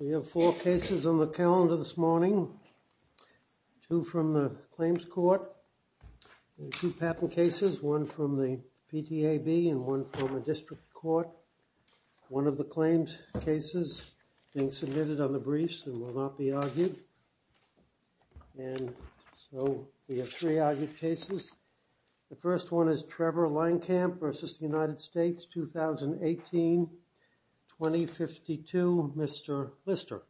We have four cases on the calendar this morning, two from the Claims Court, two patent cases, one from the PTAB and one from the District Court. One of the claims cases being submitted on the briefs and will not be argued, and so we have three argued cases. The first one is Trevor Lankamp v. United States, 2018-2052. Mr. Lister.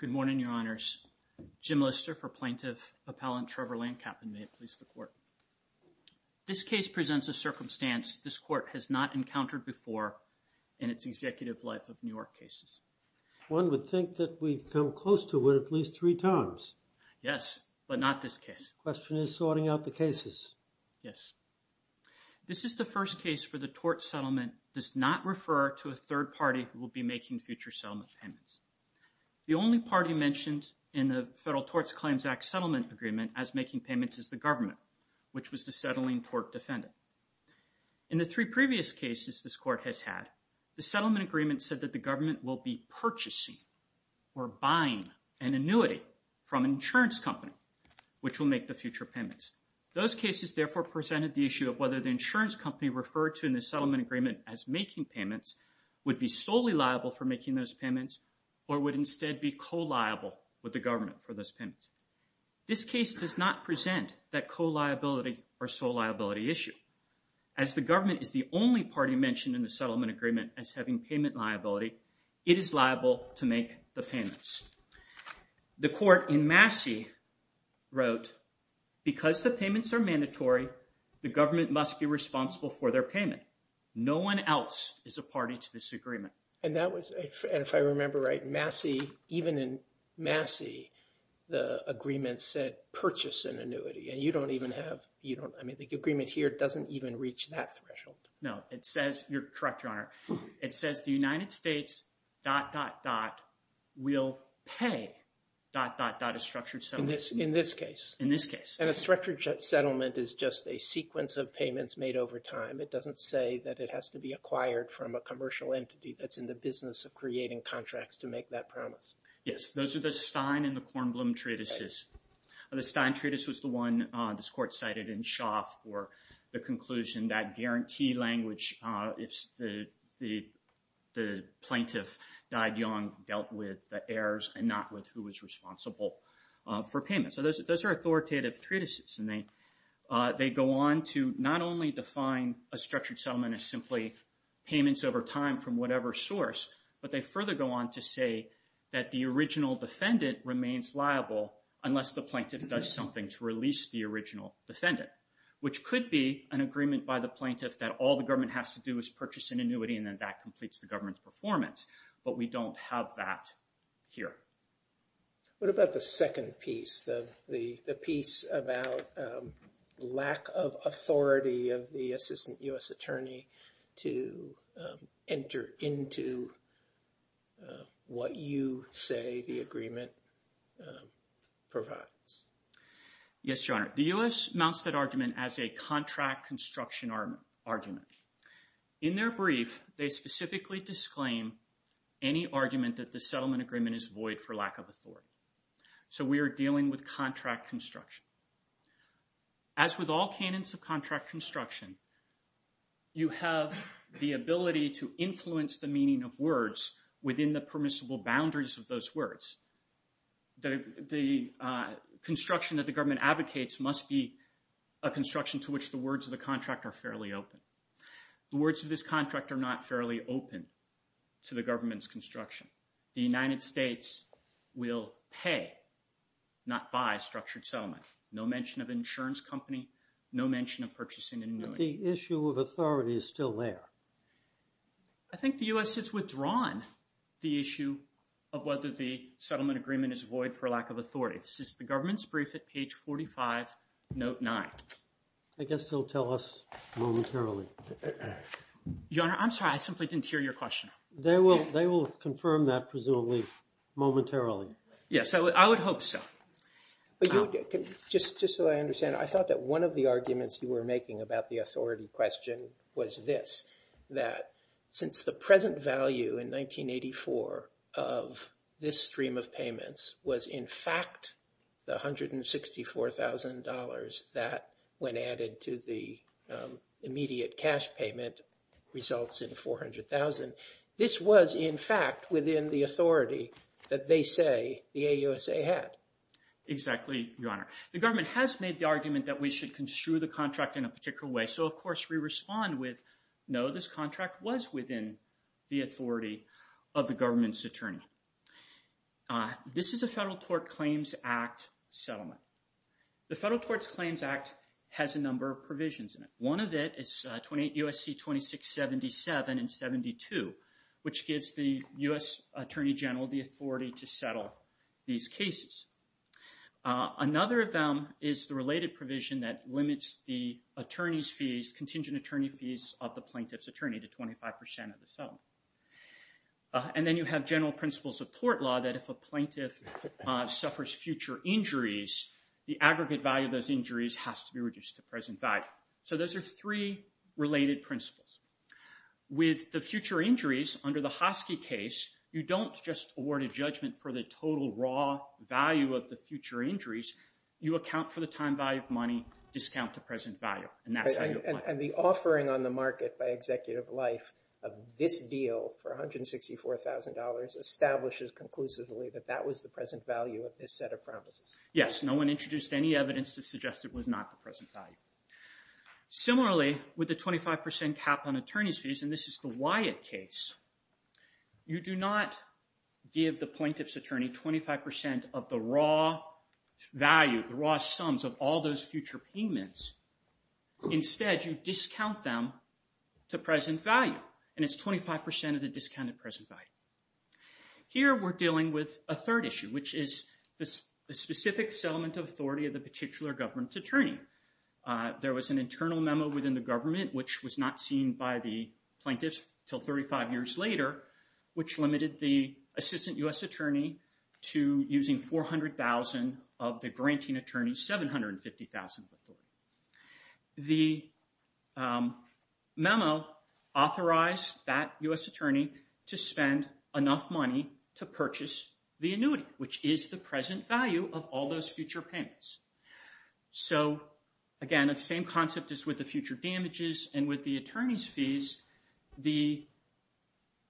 Good morning, Your Honors. Jim Lister for Plaintiff Appellant Trevor Lankamp, and may it please the Court. This case presents a circumstance this Court has not encountered before in its executive life of New York cases. One would think that we've come close to it at least three times. Yes, but not this case. Question is sorting out the cases. Yes. This is the first case for the tort settlement, does not refer to a third party who will be making future settlement payments. The only party mentioned in the Federal Torts Claims Act settlement agreement as making payments is the government, which was the settling tort defendant. In the three previous cases this Court has had, the settlement agreement said that the government will be purchasing or buying an annuity from an insurance company, which will make the future payments. Those cases therefore presented the issue of whether the insurance company referred to in the settlement agreement as making payments would be solely liable for making those payments or would instead be co-liable with the government for those payments. This case does not present that co-liability or sole liability issue. As the government is the only party mentioned in the settlement agreement as having payment liability, it is liable to make the payments. The Court in Massey wrote, because the payments are mandatory, the government must be responsible for their payment. No one else is a party to this agreement. And that was, and if I remember right, Massey, even in Massey, the agreement said purchase an annuity and you don't even have, I mean, the agreement here doesn't even reach that threshold. No, it says, you're correct, Your Honor. It says the United States dot, dot, dot, will pay dot, dot, dot, a structured settlement. In this case. In this case. And a structured settlement is just a sequence of payments made over time. It doesn't say that it has to be acquired from a commercial entity that's in the business of creating contracts to make that promise. Yes, those are the Stein and the Kornblum treatises. The Stein treatise was the one this Court cited in Schaaf for the conclusion that guarantee language, if the plaintiff died young, dealt with the heirs and not with who was responsible for payment. So those are authoritative treatises and they go on to not only define a structured settlement as simply payments over time from whatever source, but they further go on to say that the original defendant remains liable unless the plaintiff does something to release the original defendant. Which could be an agreement by the plaintiff that all the government has to do is purchase an annuity and then that completes the government's performance. But we don't have that here. What about the second piece, the piece about lack of authority of the assistant U.S. attorney to enter into what you say the agreement provides? Yes, Your Honor. The U.S. mounts that argument as a contract construction argument. In their brief, they specifically disclaim any argument that the settlement agreement is void for lack of authority. So we are dealing with contract construction. As with all canons of contract construction, you have the ability to influence the meaning of words within the permissible boundaries of those words. The construction that the government advocates must be a construction to which the words of the contract are fairly open. The words of this contract are not fairly open to the government's construction. The United States will pay, not buy, structured settlement. No mention of insurance company, no mention of purchasing an annuity. But the issue of authority is still there. I think the U.S. has withdrawn the issue of whether the settlement agreement is void for lack of authority. This is the government's brief at page 45, note 9. I guess they'll tell us momentarily. Your Honor, I'm sorry, I simply didn't hear your question. They will confirm that, presumably, momentarily. Yes, I would hope so. Just so I understand, I thought that one of the arguments you were making about the authority question was this, that since the present value in 1984 of this stream of payments was in fact the $164,000 that, when added to the immediate cash payment, results in $400,000. This was, in fact, within the authority that they say the AUSA had. Exactly, Your Honor. The government has made the argument that we should construe the contract in a particular way. So, of course, we respond with, no, this contract was within the authority of the government's attorney. This is a Federal Tort Claims Act settlement. The Federal Torts Claims Act has a number of provisions in it. One of it is 28 U.S.C. 2677 and 72, which gives the U.S. Attorney General the authority to settle these cases. Another of them is the related provision that limits the attorney's fees, contingent attorney fees, of the plaintiff's attorney to 25% of the settlement. And then you have general principles of court law that if a plaintiff suffers future injuries, the aggregate value of those injuries has to be reduced to present value. So those are three related principles. With the future injuries, under the Hoskey case, you don't just award a judgment for the total raw value of the future injuries. You account for the time value of money, discount the present value. And the offering on the market by Executive Life of this deal for $164,000 establishes conclusively that that was the present value of this set of promises. Yes. No one introduced any evidence to suggest it was not the present value. Similarly, with the 25% cap on attorney's fees, and this is the Wyatt case, you do not give the plaintiff's attorney 25% of the raw value, the raw sums of all those future payments. Instead, you discount them to present value. And it's 25% of the discounted present value. Here we're dealing with a third issue, which is the specific settlement of authority of the particular government's attorney. There was an internal memo within the government, which was not seen by the plaintiffs until 35 years later, which limited the assistant U.S. attorney to using $400,000 of the granting attorney's $750,000 authority. The memo authorized that U.S. attorney to spend enough money to purchase the annuity, which is the present value of all those future payments. So again, the same concept is with the future damages and with the attorney's fees. The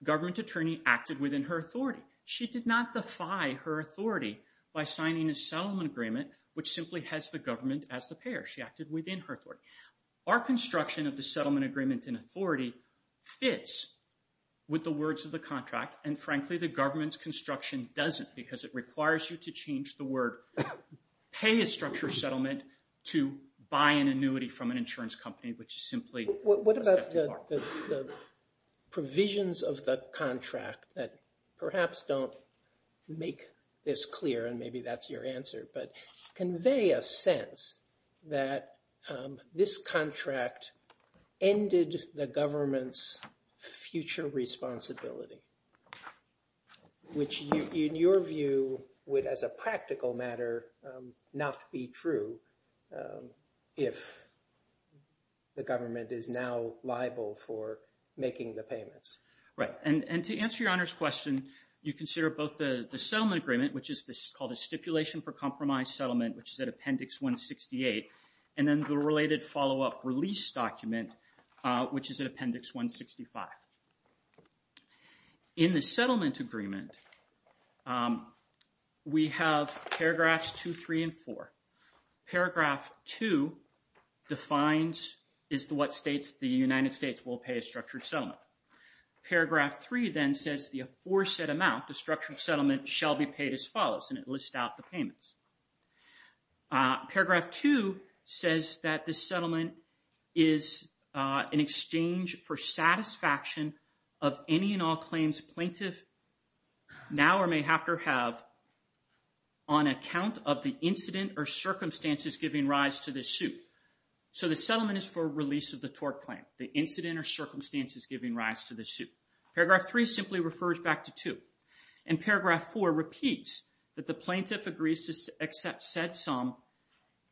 government attorney acted within her authority. She did not defy her authority by signing a settlement agreement, which simply has the government as the payer. She acted within her authority. Our construction of the settlement agreement and authority fits with the words of the contract, and frankly, the government's construction doesn't, because it requires you to change the word, pay a structure settlement, to buy an annuity from an insurance company, which is simply a step too far. What about the provisions of the contract that perhaps don't make this clear, and maybe that's your answer, but convey a sense that this contract ended the government's future responsibility, which in your view would, as a practical matter, not be true if the government is now liable for making the payments? Right. And to answer your Honor's question, you consider both the settlement agreement, which is called a stipulation for compromise settlement, which is at Appendix 168, and then the related follow-up release document, which is at Appendix 165. In the settlement agreement, we have paragraphs 2, 3, and 4. Paragraph 2 defines, is what states the United States will pay a structured settlement. Paragraph 3, then, says the aforesaid amount, the structured settlement, shall be paid as follows, and it lists out the payments. Paragraph 2 says that this settlement is in exchange for satisfaction of any and all claims plaintiff now or may have to have on account of the incident or circumstances giving rise to the suit. So the settlement is for release of the tort claim, the incident or circumstances giving rise to the suit. Paragraph 3 simply refers back to 2. And paragraph 4 repeats that the plaintiff agrees to set some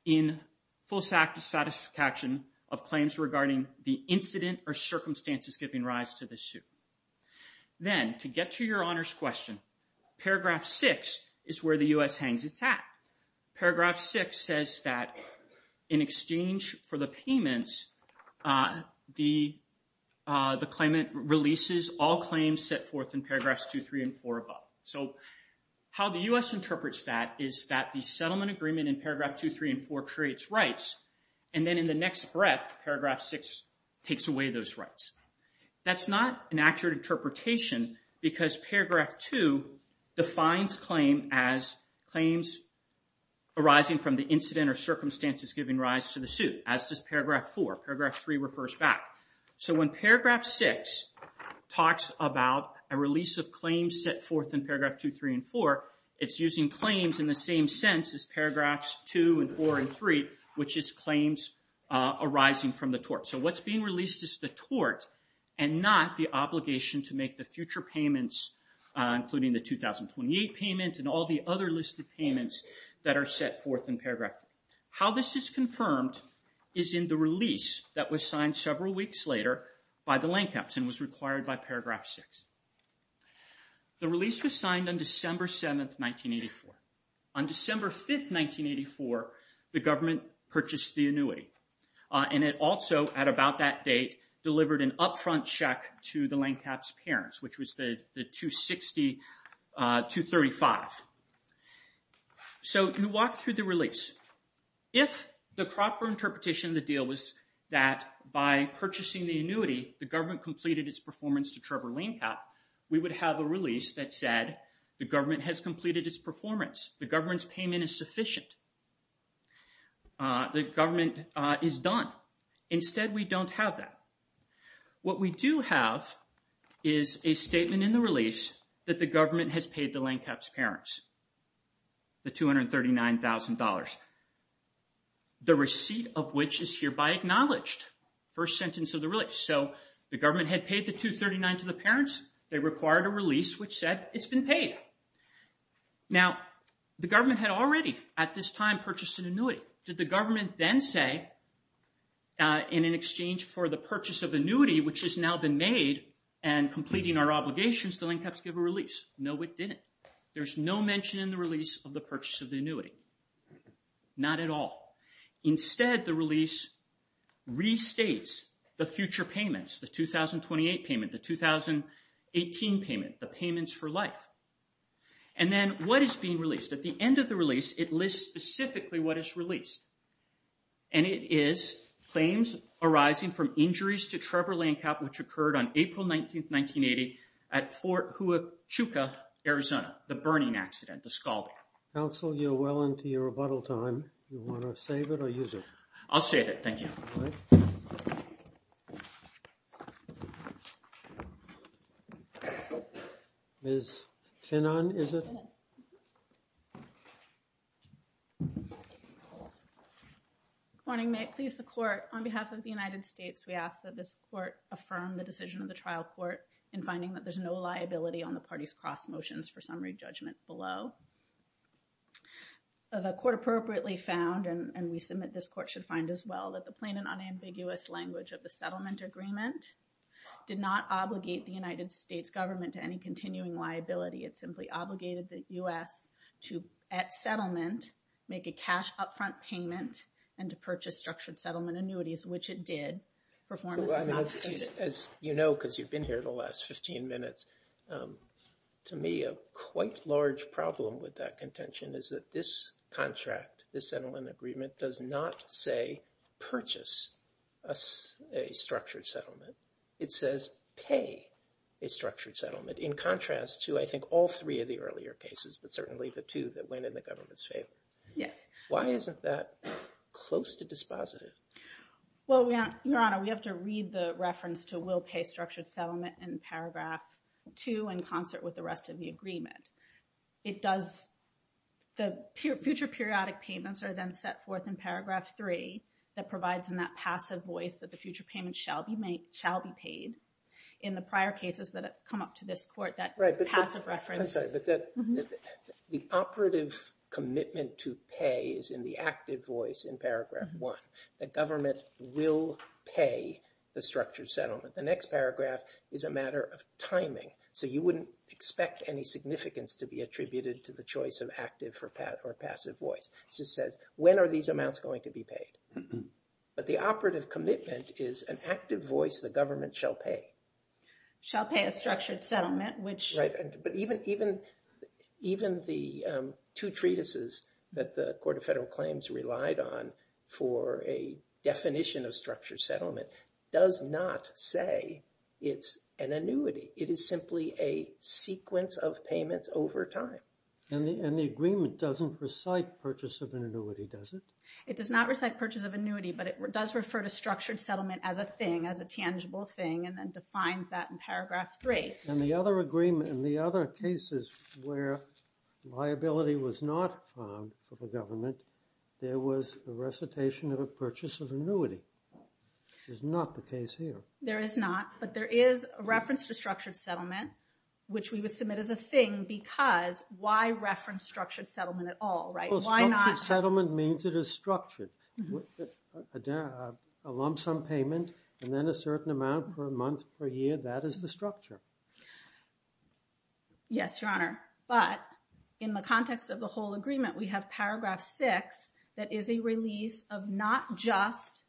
in full satisfaction of claims regarding the incident or circumstances giving rise to the suit. Then, to get to your honors question, paragraph 6 is where the U.S. hangs its hat. Paragraph 6 says that in exchange for the payments, the claimant releases all claims set forth in paragraphs 2, 3, and 4 above. So how the U.S. interprets that is that the settlement agreement in paragraph 2, 3, and 4 creates rights, and then in the next breath, paragraph 6 takes away those rights. That's not an accurate interpretation because paragraph 2 defines claim as claims arising from the incident or circumstances giving rise to the suit, as does paragraph 4. Paragraph 3 refers back. So when paragraph 6 talks about a release of claims set forth in paragraph 2, 3, and 4, it's using claims in the same sense as paragraphs 2, and 4, and 3, which is claims arising from the tort. So what's being released is the tort and not the obligation to make the future payments, including the 2028 payment and all the other listed payments that are set forth in paragraph 3. How this is confirmed is in the release that was signed several weeks later by the Lancaps and was required by paragraph 6. The release was signed on December 7, 1984. On December 5, 1984, the government purchased the annuity, and it also at about that date delivered an upfront check to the Lancaps' parents, which was the 260-235. So you walk through the release. If the proper interpretation of the deal was that by purchasing the annuity, the government completed its performance to Trevor Lancap, we would have a release that said the government has completed its performance. The government's payment is sufficient. The government is done. Instead, we don't have that. What we do have is a statement in the release that the government has paid the Lancaps' parents the $239,000, the receipt of which is hereby acknowledged, first sentence of the release. So the government had paid the 239 to the parents. They required a release which said it's been paid. Now the government had already at this time purchased an annuity. Did the government then say in an exchange for the purchase of annuity, which has now been made and completing our obligations, the Lancaps give a release? No, it didn't. There's no mention in the release of the purchase of the annuity. Not at all. Instead, the release restates the future payments, the 2028 payment, the 2018 payment, the payments for life. And then what is being released? At the end of the release, it lists specifically what is released. And it is claims arising from injuries to Trevor Lancap which occurred on April 19, 1980 at Fort Huachuca, Arizona, the burning accident, the scalding. Counsel, you're well into your rebuttal time. Do you want to save it or use it? I'll save it. Thank you. Ms. Finnon, is it? Good morning. May it please the court, on behalf of the United States, we ask that this court affirm the decision of the trial court in finding that there's no liability on the party's cross motions for summary judgment below. The court appropriately found, and we submit this court should find as well, that the plain and unambiguous language of the settlement agreement did not obligate the United States government to any continuing liability. It simply obligated the U.S. to, at settlement, make a cash upfront payment and to purchase structured settlement annuities, which it did. Performance is not stated. As you know, because you've been here the last 15 minutes, to me a quite large problem with that contention is that this contract, this settlement agreement, does not say purchase a structured settlement. It says pay a structured settlement, in contrast to, I think, all three of the earlier cases, but certainly the two that went in the government's favor. Why isn't that close to dispositive? Well, Your Honor, we have to read the reference to will pay structured settlement in paragraph two, in concert with the rest of the agreement. It does, the future periodic payments are then set forth in paragraph three, that provides in that passive voice that the future payment shall be made, shall be paid. In the prior cases that come up to this court, that passive reference. I'm sorry, but the operative commitment to pay is in the active voice in paragraph one. The government will pay the structured settlement. The next paragraph is a matter of timing, so you wouldn't expect any significance to be attributed to the choice of active or passive voice. It just says, when are these amounts going to be paid? But the operative commitment is an active voice the government shall pay. Shall pay a structured settlement, which... But even the two treatises that the Court of Federal Claims relied on for a definition of structured settlement does not say it's an annuity. It is simply a sequence of payments over time. And the agreement doesn't recite purchase of an annuity, does it? It does not recite purchase of annuity, but it does refer to structured settlement as a thing, as a tangible thing, and then defines that in paragraph three. And the other agreement, and the other cases where liability was not found for the government, there was a recitation of a purchase of annuity. Which is not the case here. There is not, but there is a reference to structured settlement, which we would submit as a thing, because why reference structured settlement at all, right? Well, structured settlement means it is structured. A lump sum payment, and then a certain amount per month, per year, that is the structure. Yes, Your Honor. But in the context of the whole agreement, we have paragraph six that is a release of not just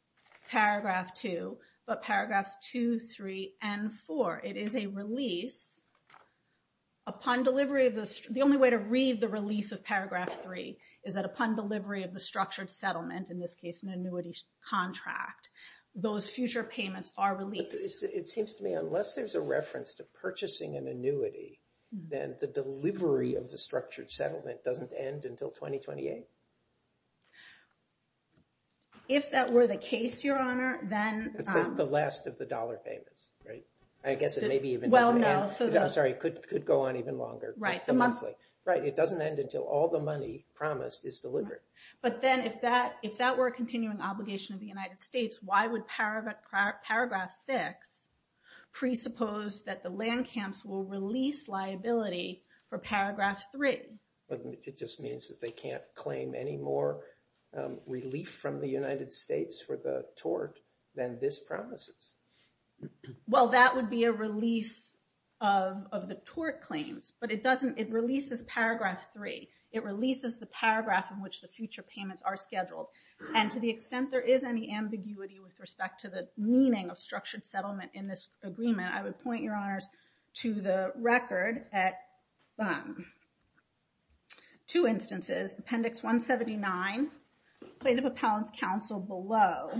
paragraph two, but paragraphs two, three, and four. It is a release upon delivery of the... The only way to read the release of paragraph three is that upon delivery of the structured settlement, in this case an annuity contract, those future payments are released. It seems to me, unless there's a reference to purchasing an annuity, then the delivery of the structured settlement doesn't end until 2028. If that were the case, Your Honor, then... It's the last of the dollar payments, right? I guess it may be even... Well, no, so... I'm sorry, it could go on even longer. Right, the monthly. Right, it doesn't end until all the money promised is delivered. But then if that were a continuing obligation of the United States, why would paragraph six presuppose that the land camps will release liability for paragraph three? It just means that they can't claim any more relief from the United States for the tort than this promises. Well, that would be a release of the tort claims, but it releases paragraph three. It releases the paragraph in which the future payments are scheduled. And to the extent there is any ambiguity with respect to the meaning of structured settlement in this agreement, I would point, Your Honors, to the record at two instances. Appendix 179, plaintiff appellant's counsel below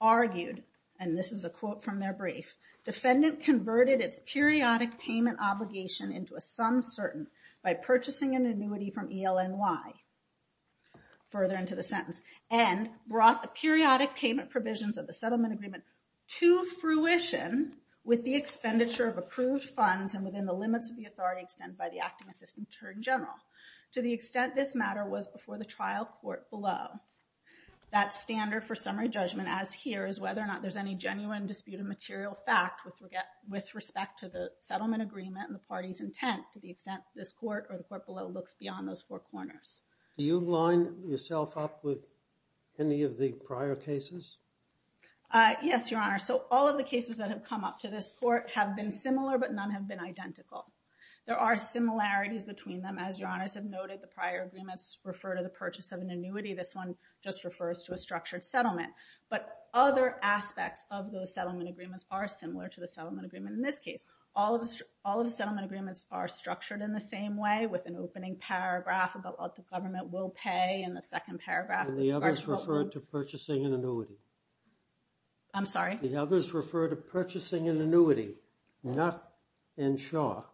argued, and this is a quote from their brief, defendant converted its periodic payment obligation into a sum certain by purchasing an annuity from ELNY, further into the sentence, and brought the periodic payment provisions of the settlement agreement to fruition with the expenditure of approved funds and within the limits of the authority extended by the acting assistant attorney general. To the extent this matter was before the trial court below, that standard for summary judgment as here is whether or not there's any genuine dispute of material fact with respect to the court below looks beyond those four corners. Do you line yourself up with any of the prior cases? Yes, Your Honor. So all of the cases that have come up to this court have been similar, but none have been identical. There are similarities between them. As Your Honors have noted, the prior agreements refer to the purchase of an annuity. This one just refers to a structured settlement. But other aspects of those settlement agreements are similar to the settlement agreement in this case. All of the settlement agreements are structured in the same way with an opening paragraph about what the government will pay in the second paragraph. And the others refer to purchasing an annuity. I'm sorry? The others refer to purchasing an annuity, not insure.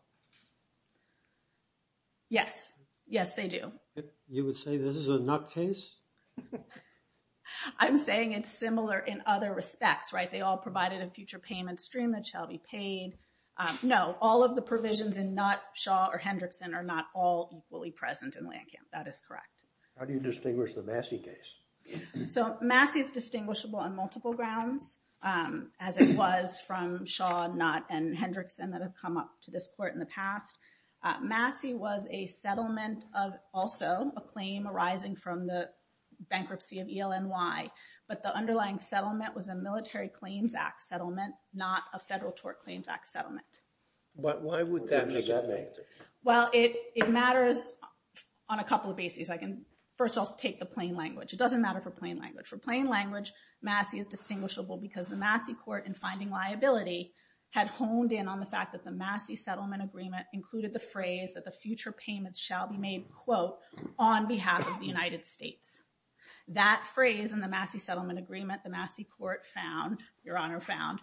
Yes. Yes, they do. You would say this is a not case? I'm saying it's similar in other respects, right? They all provided a future payment stream that shall be paid. No, all of the provisions in Knott, Shaw, or Hendrickson are not all equally present in Landcamp. That is correct. How do you distinguish the Massey case? So Massey is distinguishable on multiple grounds, as it was from Shaw, Knott, and Hendrickson that have come up to this court in the past. Massey was a settlement of also a claim arising from the bankruptcy of ELNY. But the underlying settlement was a Military Claims Act settlement, not a Federal Tort Claims Act settlement. Why would that make that matter? Well, it matters on a couple of bases. I can, first of all, take the plain language. It doesn't matter for plain language. For plain language, Massey is distinguishable because the Massey court, in finding liability, had honed in on the fact that the Massey settlement agreement included the phrase that the future payments shall be made, quote, on behalf of the United States. That phrase in the Massey settlement agreement, the Massey court found, Your Honor found,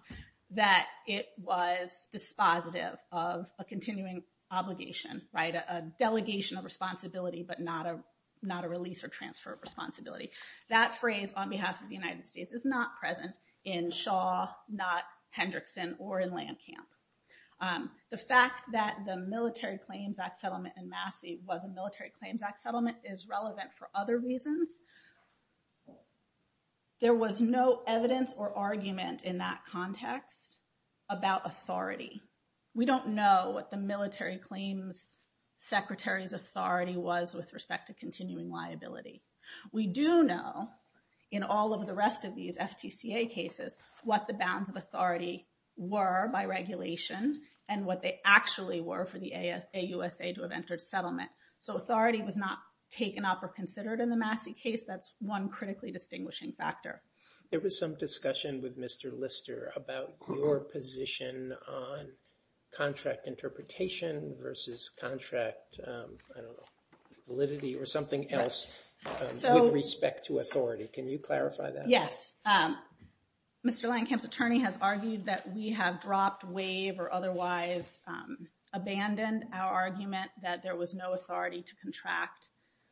that it was dispositive of a continuing obligation, a delegation of responsibility, but not a release or transfer of responsibility. That phrase, on behalf of the United States, is not present in Shaw, Knott, Hendrickson, or in Landcamp. The fact that the Military Claims Act settlement in Massey was a Military Claims Act settlement is relevant for other reasons. There was no evidence or argument in that context about authority. We don't know what the Military Claims Secretary's authority was with respect to continuing liability. We do know, in all of the rest of these FTCA cases, what the bounds of authority were by regulation and what they actually were for the AUSA to have entered settlement. So authority was not taken up or considered in the Massey case. That's one critically distinguishing factor. There was some discussion with Mr. Lister about your position on contract interpretation versus contract validity or something else with respect to authority. Can you clarify that? Yes. Mr. Landcamp's attorney has argued that we have dropped, waived, or otherwise abandoned our argument that there was no authority to contract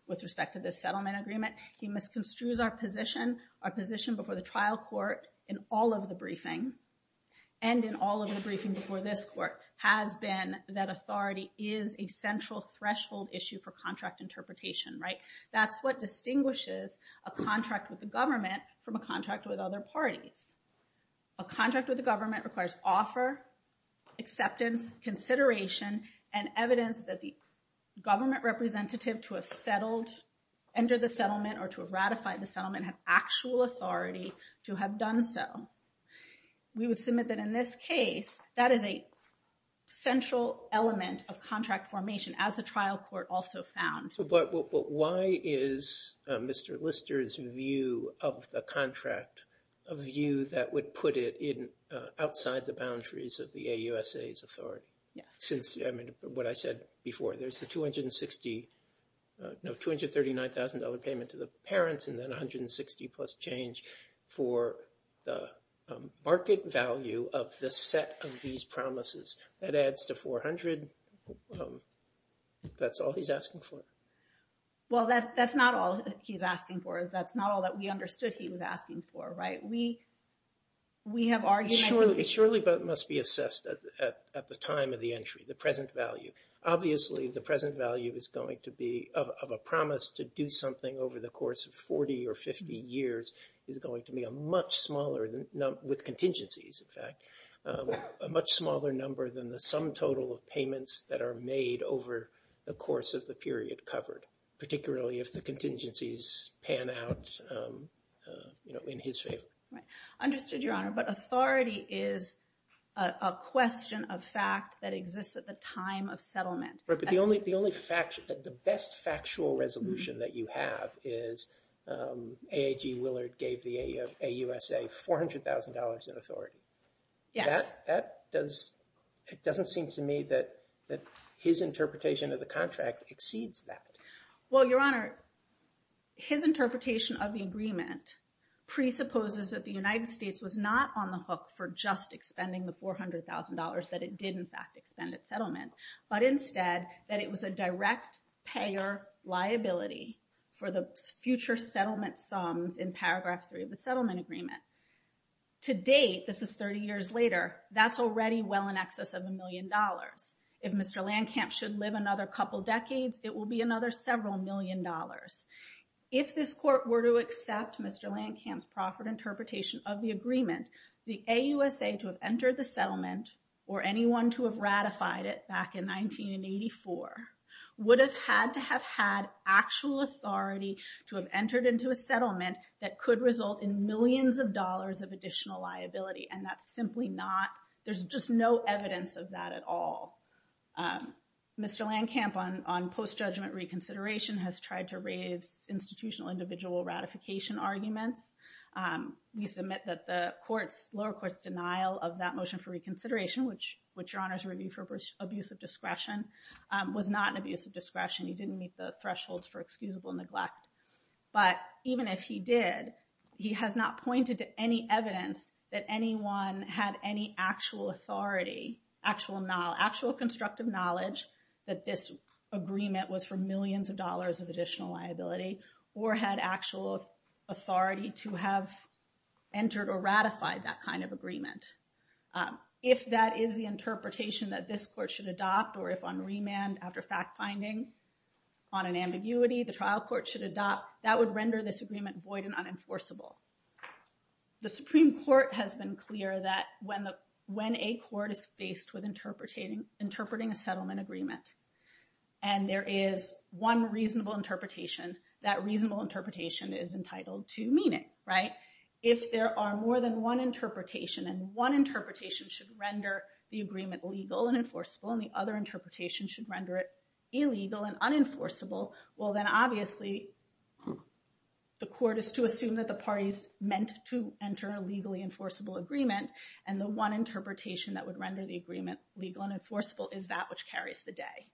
with respect to this settlement agreement. He misconstrues our position, our position before the trial court in all of the briefing, and in all of the briefing before this court, has been that authority is a central threshold issue for contract interpretation, right? That's what distinguishes a contract with the government from a contract with other parties. A contract with the government requires offer, acceptance, consideration, and evidence that the government representative to have settled, entered the settlement, or to have ratified the settlement had actual authority to have done so. We would submit that in this case, that is a central element of contract formation, as the trial court also found. Why is Mr. Lister's view of the contract a view that would put it outside the boundaries of the AUSA's authority? Since what I said before, there's the $239,000 payment to the parents and then $160,000 plus change for the market value of the set of these promises. That adds to $400,000. And that's all he's asking for? Well, that's not all he's asking for. That's not all that we understood he was asking for, right? We have argued- It surely must be assessed at the time of the entry, the present value. Obviously, the present value is going to be, of a promise to do something over the course of 40 or 50 years, is going to be a much smaller, with contingencies in fact, a much smaller number than the sum total of payments that are made over the course of the period covered. Particularly if the contingencies pan out in his favor. Right. Understood, Your Honor. But authority is a question of fact that exists at the time of settlement. Right, but the only fact, the best factual resolution that you have is AIG Willard gave the AUSA $400,000 in authority. Yes. It doesn't seem to me that his interpretation of the contract exceeds that. Well, Your Honor, his interpretation of the agreement presupposes that the United States was not on the hook for just expending the $400,000, that it did in fact expend at settlement. But instead, that it was a direct payer liability for the future settlement sums in paragraph three of the settlement agreement. To date, this is 30 years later, that's already well in excess of a million dollars. If Mr. Landcamp should live another couple decades, it will be another several million dollars. If this court were to accept Mr. Landcamp's proffered interpretation of the agreement, the AUSA to have entered the settlement, or anyone to have ratified it back in 1984, would have had to have had actual authority to have entered into a settlement that could result in millions of dollars of additional liability. And that's simply not, there's just no evidence of that at all. Mr. Landcamp on post-judgment reconsideration has tried to raise institutional individual ratification arguments. We submit that the lower court's denial of that motion for reconsideration, which Your Honor's reviewed for abuse of discretion, was not an abuse of discretion. He didn't meet the thresholds for excusable neglect. But even if he did, he has not pointed to any evidence that anyone had any actual authority, actual constructive knowledge that this agreement was for millions of dollars of additional liability, or had actual authority to have entered or ratified that kind of agreement. If that is the interpretation that this court should adopt, or if on remand after fact-finding, on an ambiguity, the trial court should adopt, that would render this agreement void and unenforceable. The Supreme Court has been clear that when a court is faced with interpreting a settlement agreement, and there is one reasonable interpretation, that reasonable interpretation is entitled to meaning, right? If there are more than one interpretation, and one interpretation should render the agreement legal and enforceable, and the other interpretation should render it illegal and unenforceable, well then obviously the court is to assume that the parties meant to enter a legally enforceable agreement. And the one interpretation that would render the agreement legal and enforceable is that which carries the day.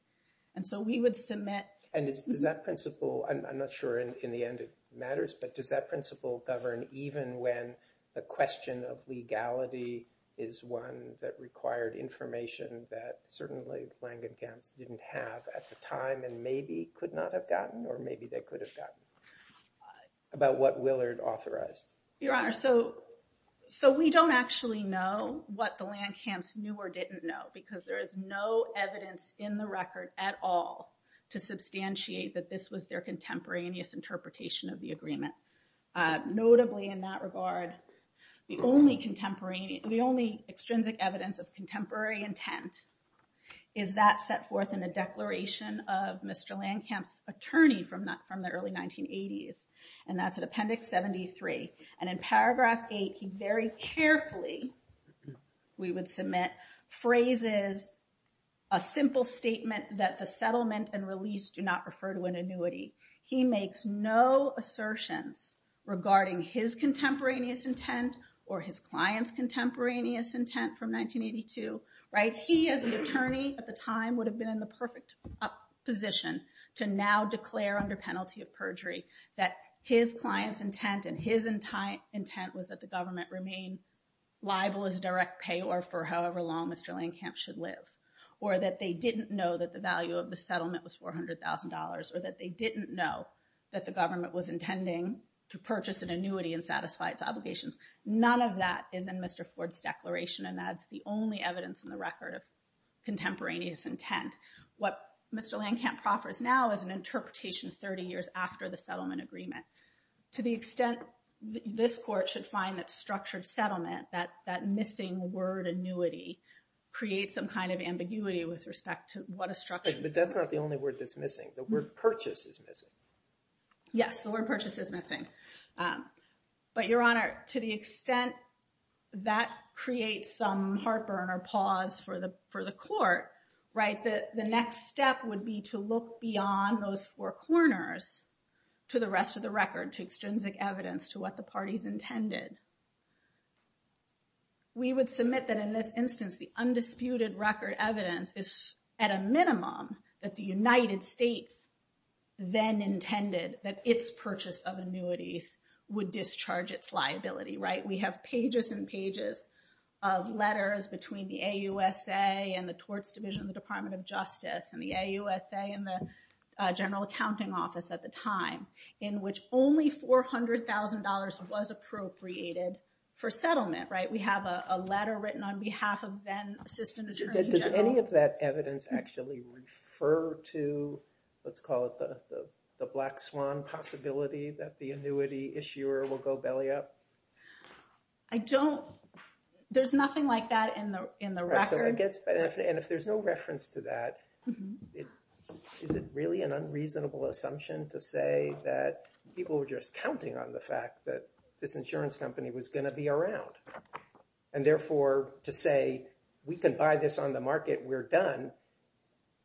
And so we would submit- And does that principle, I'm not sure in the end it matters, but does that principle govern even when the question of legality is one that required information that certainly Langan camps didn't have at the time, and maybe could not have gotten, or maybe they could have gotten, about what Willard authorized? Your Honor, so we don't actually know what the Langan camps knew or didn't know, because there is no evidence in the record at all to substantiate that this was their contemporaneous interpretation of the agreement. Notably in that regard, the only extrinsic evidence of contemporary intent is that set forth in the declaration of Mr. Langan camps' attorney from the early 1980s, and that's in appendix 73. And in paragraph eight, he very carefully, we would submit, phrases a simple statement that the settlement and release do not refer to an annuity. He makes no assertions regarding his contemporaneous intent or his client's contemporaneous intent from 1982. He as an attorney at the time would have been in the perfect position to now declare under penalty of perjury that his client's intent and his intent was that the government remain liable as direct payor for however long Mr. Langan camps should live, or that they didn't know that the value of the settlement was $400,000, or that they didn't know that the government was intending to purchase an annuity and satisfy its obligations. None of that is in Mr. Ford's declaration, and that's the only evidence in the record of contemporaneous intent. What Mr. Langan camp proffers now is an interpretation 30 years after the settlement agreement. To the extent that this court should find that structured settlement, that missing word annuity, creates some kind of ambiguity with respect to what a structure is. But that's not the only word that's missing. The word purchase is missing. Yes, the word purchase is missing. But your honor, to the extent that creates some heartburn or pause for the court, the next step would be to look beyond those four corners to the rest of the record, to extrinsic evidence, to what the parties intended. We would submit that in this instance, the undisputed record evidence is at a minimum that the United States then intended that its purchase of annuities would discharge its liability, right? We have pages and pages of letters between the AUSA and the Torts Division, the Department of Justice, and the AUSA and the General Accounting Office at the time, in which only $400,000 was appropriated for settlement, right? We have a letter written on behalf of then Assistant Attorney General. Does any of that evidence actually refer to, let's call it the black swan possibility, that the annuity issuer will go belly up? I don't, there's nothing like that in the record. So I guess, and if there's no reference to that, it isn't really an unreasonable assumption to say that people were just counting on the fact that this insurance company was going to be around. And therefore, to say, we can buy this on the market, we're done,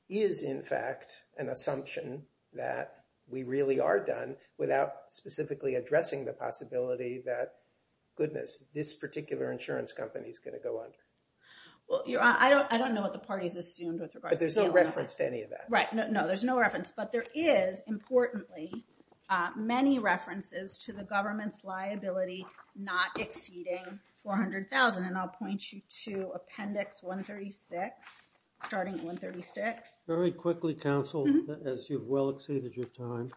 is in fact an assumption that we really are done without specifically addressing the possibility that, goodness, this particular insurance company is going to go under. Well, Your Honor, I don't know what the party's assumed with regards to the annuity. But there's no reference to any of that? Right, no, there's no reference. But there is, importantly, many references to the government's liability not exceeding $400,000. And I'll point you to Appendix 136, starting at 136. Very quickly, counsel, as you've well exceeded your time.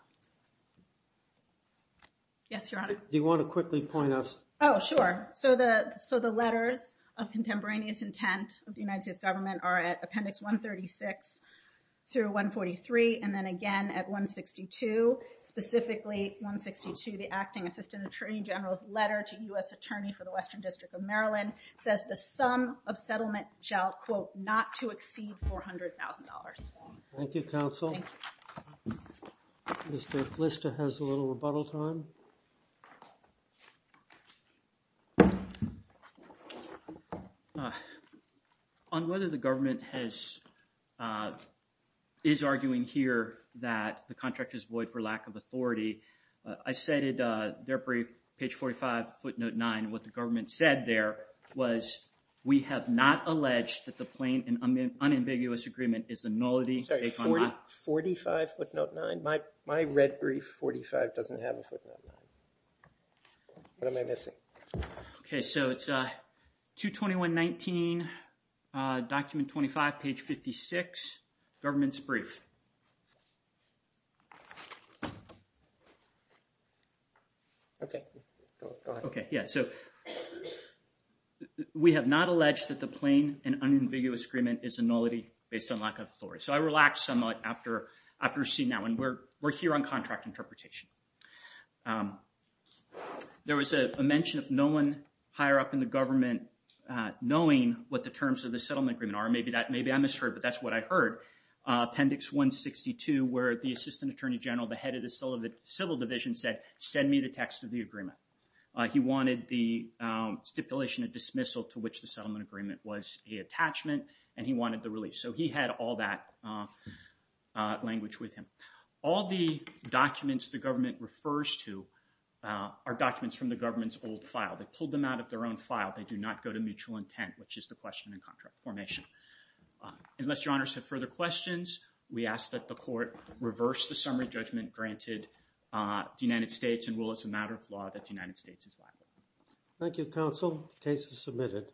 Yes, Your Honor. Do you want to quickly point us? Oh, sure. So the letters of contemporaneous intent of the United States government are at Appendix 136 through 143, and then again at 162. Specifically, 162, the Acting Assistant Attorney General's letter to U.S. Attorney for the Western District of Maryland, says the sum of settlement shall, quote, not to exceed $400,000. Thank you, counsel. Mr. Glister has a little rebuttal time. On whether the government is arguing here that the contract is void for lack of authority, I cited their brief, page 45, footnote 9. What the government said there was, we have not alleged that the plain and unambiguous agreement is a nullity. Sorry, 45 footnote 9? My red brief, 45, doesn't have a footnote 9. What am I missing? Okay, so it's 22119, document 25, page 56, government's brief. Okay, go ahead. Okay, yeah, so we have not alleged that the plain and unambiguous agreement is a nullity based on lack of authority. So I relaxed somewhat after seeing that one. We're here on contract interpretation. There was a mention of no one higher up in the government knowing what the terms of the settlement agreement are. Maybe I misheard, but that's what I heard. Appendix 162, where the Assistant Attorney General, the head of the Civil Division said, send me the text of the agreement. He wanted the stipulation of dismissal to which the settlement agreement was a attachment, and he wanted the release. So he had all that language with him. All the documents the government refers to are documents from the government's old file. They pulled them out of their own file. They do not go to mutual intent, which is the question in contract formation. Unless your honors have further questions, we ask that the court reverse the summary judgment granted the United States and rule as a matter of law that the United States is liable. Thank you, counsel. Case is submitted.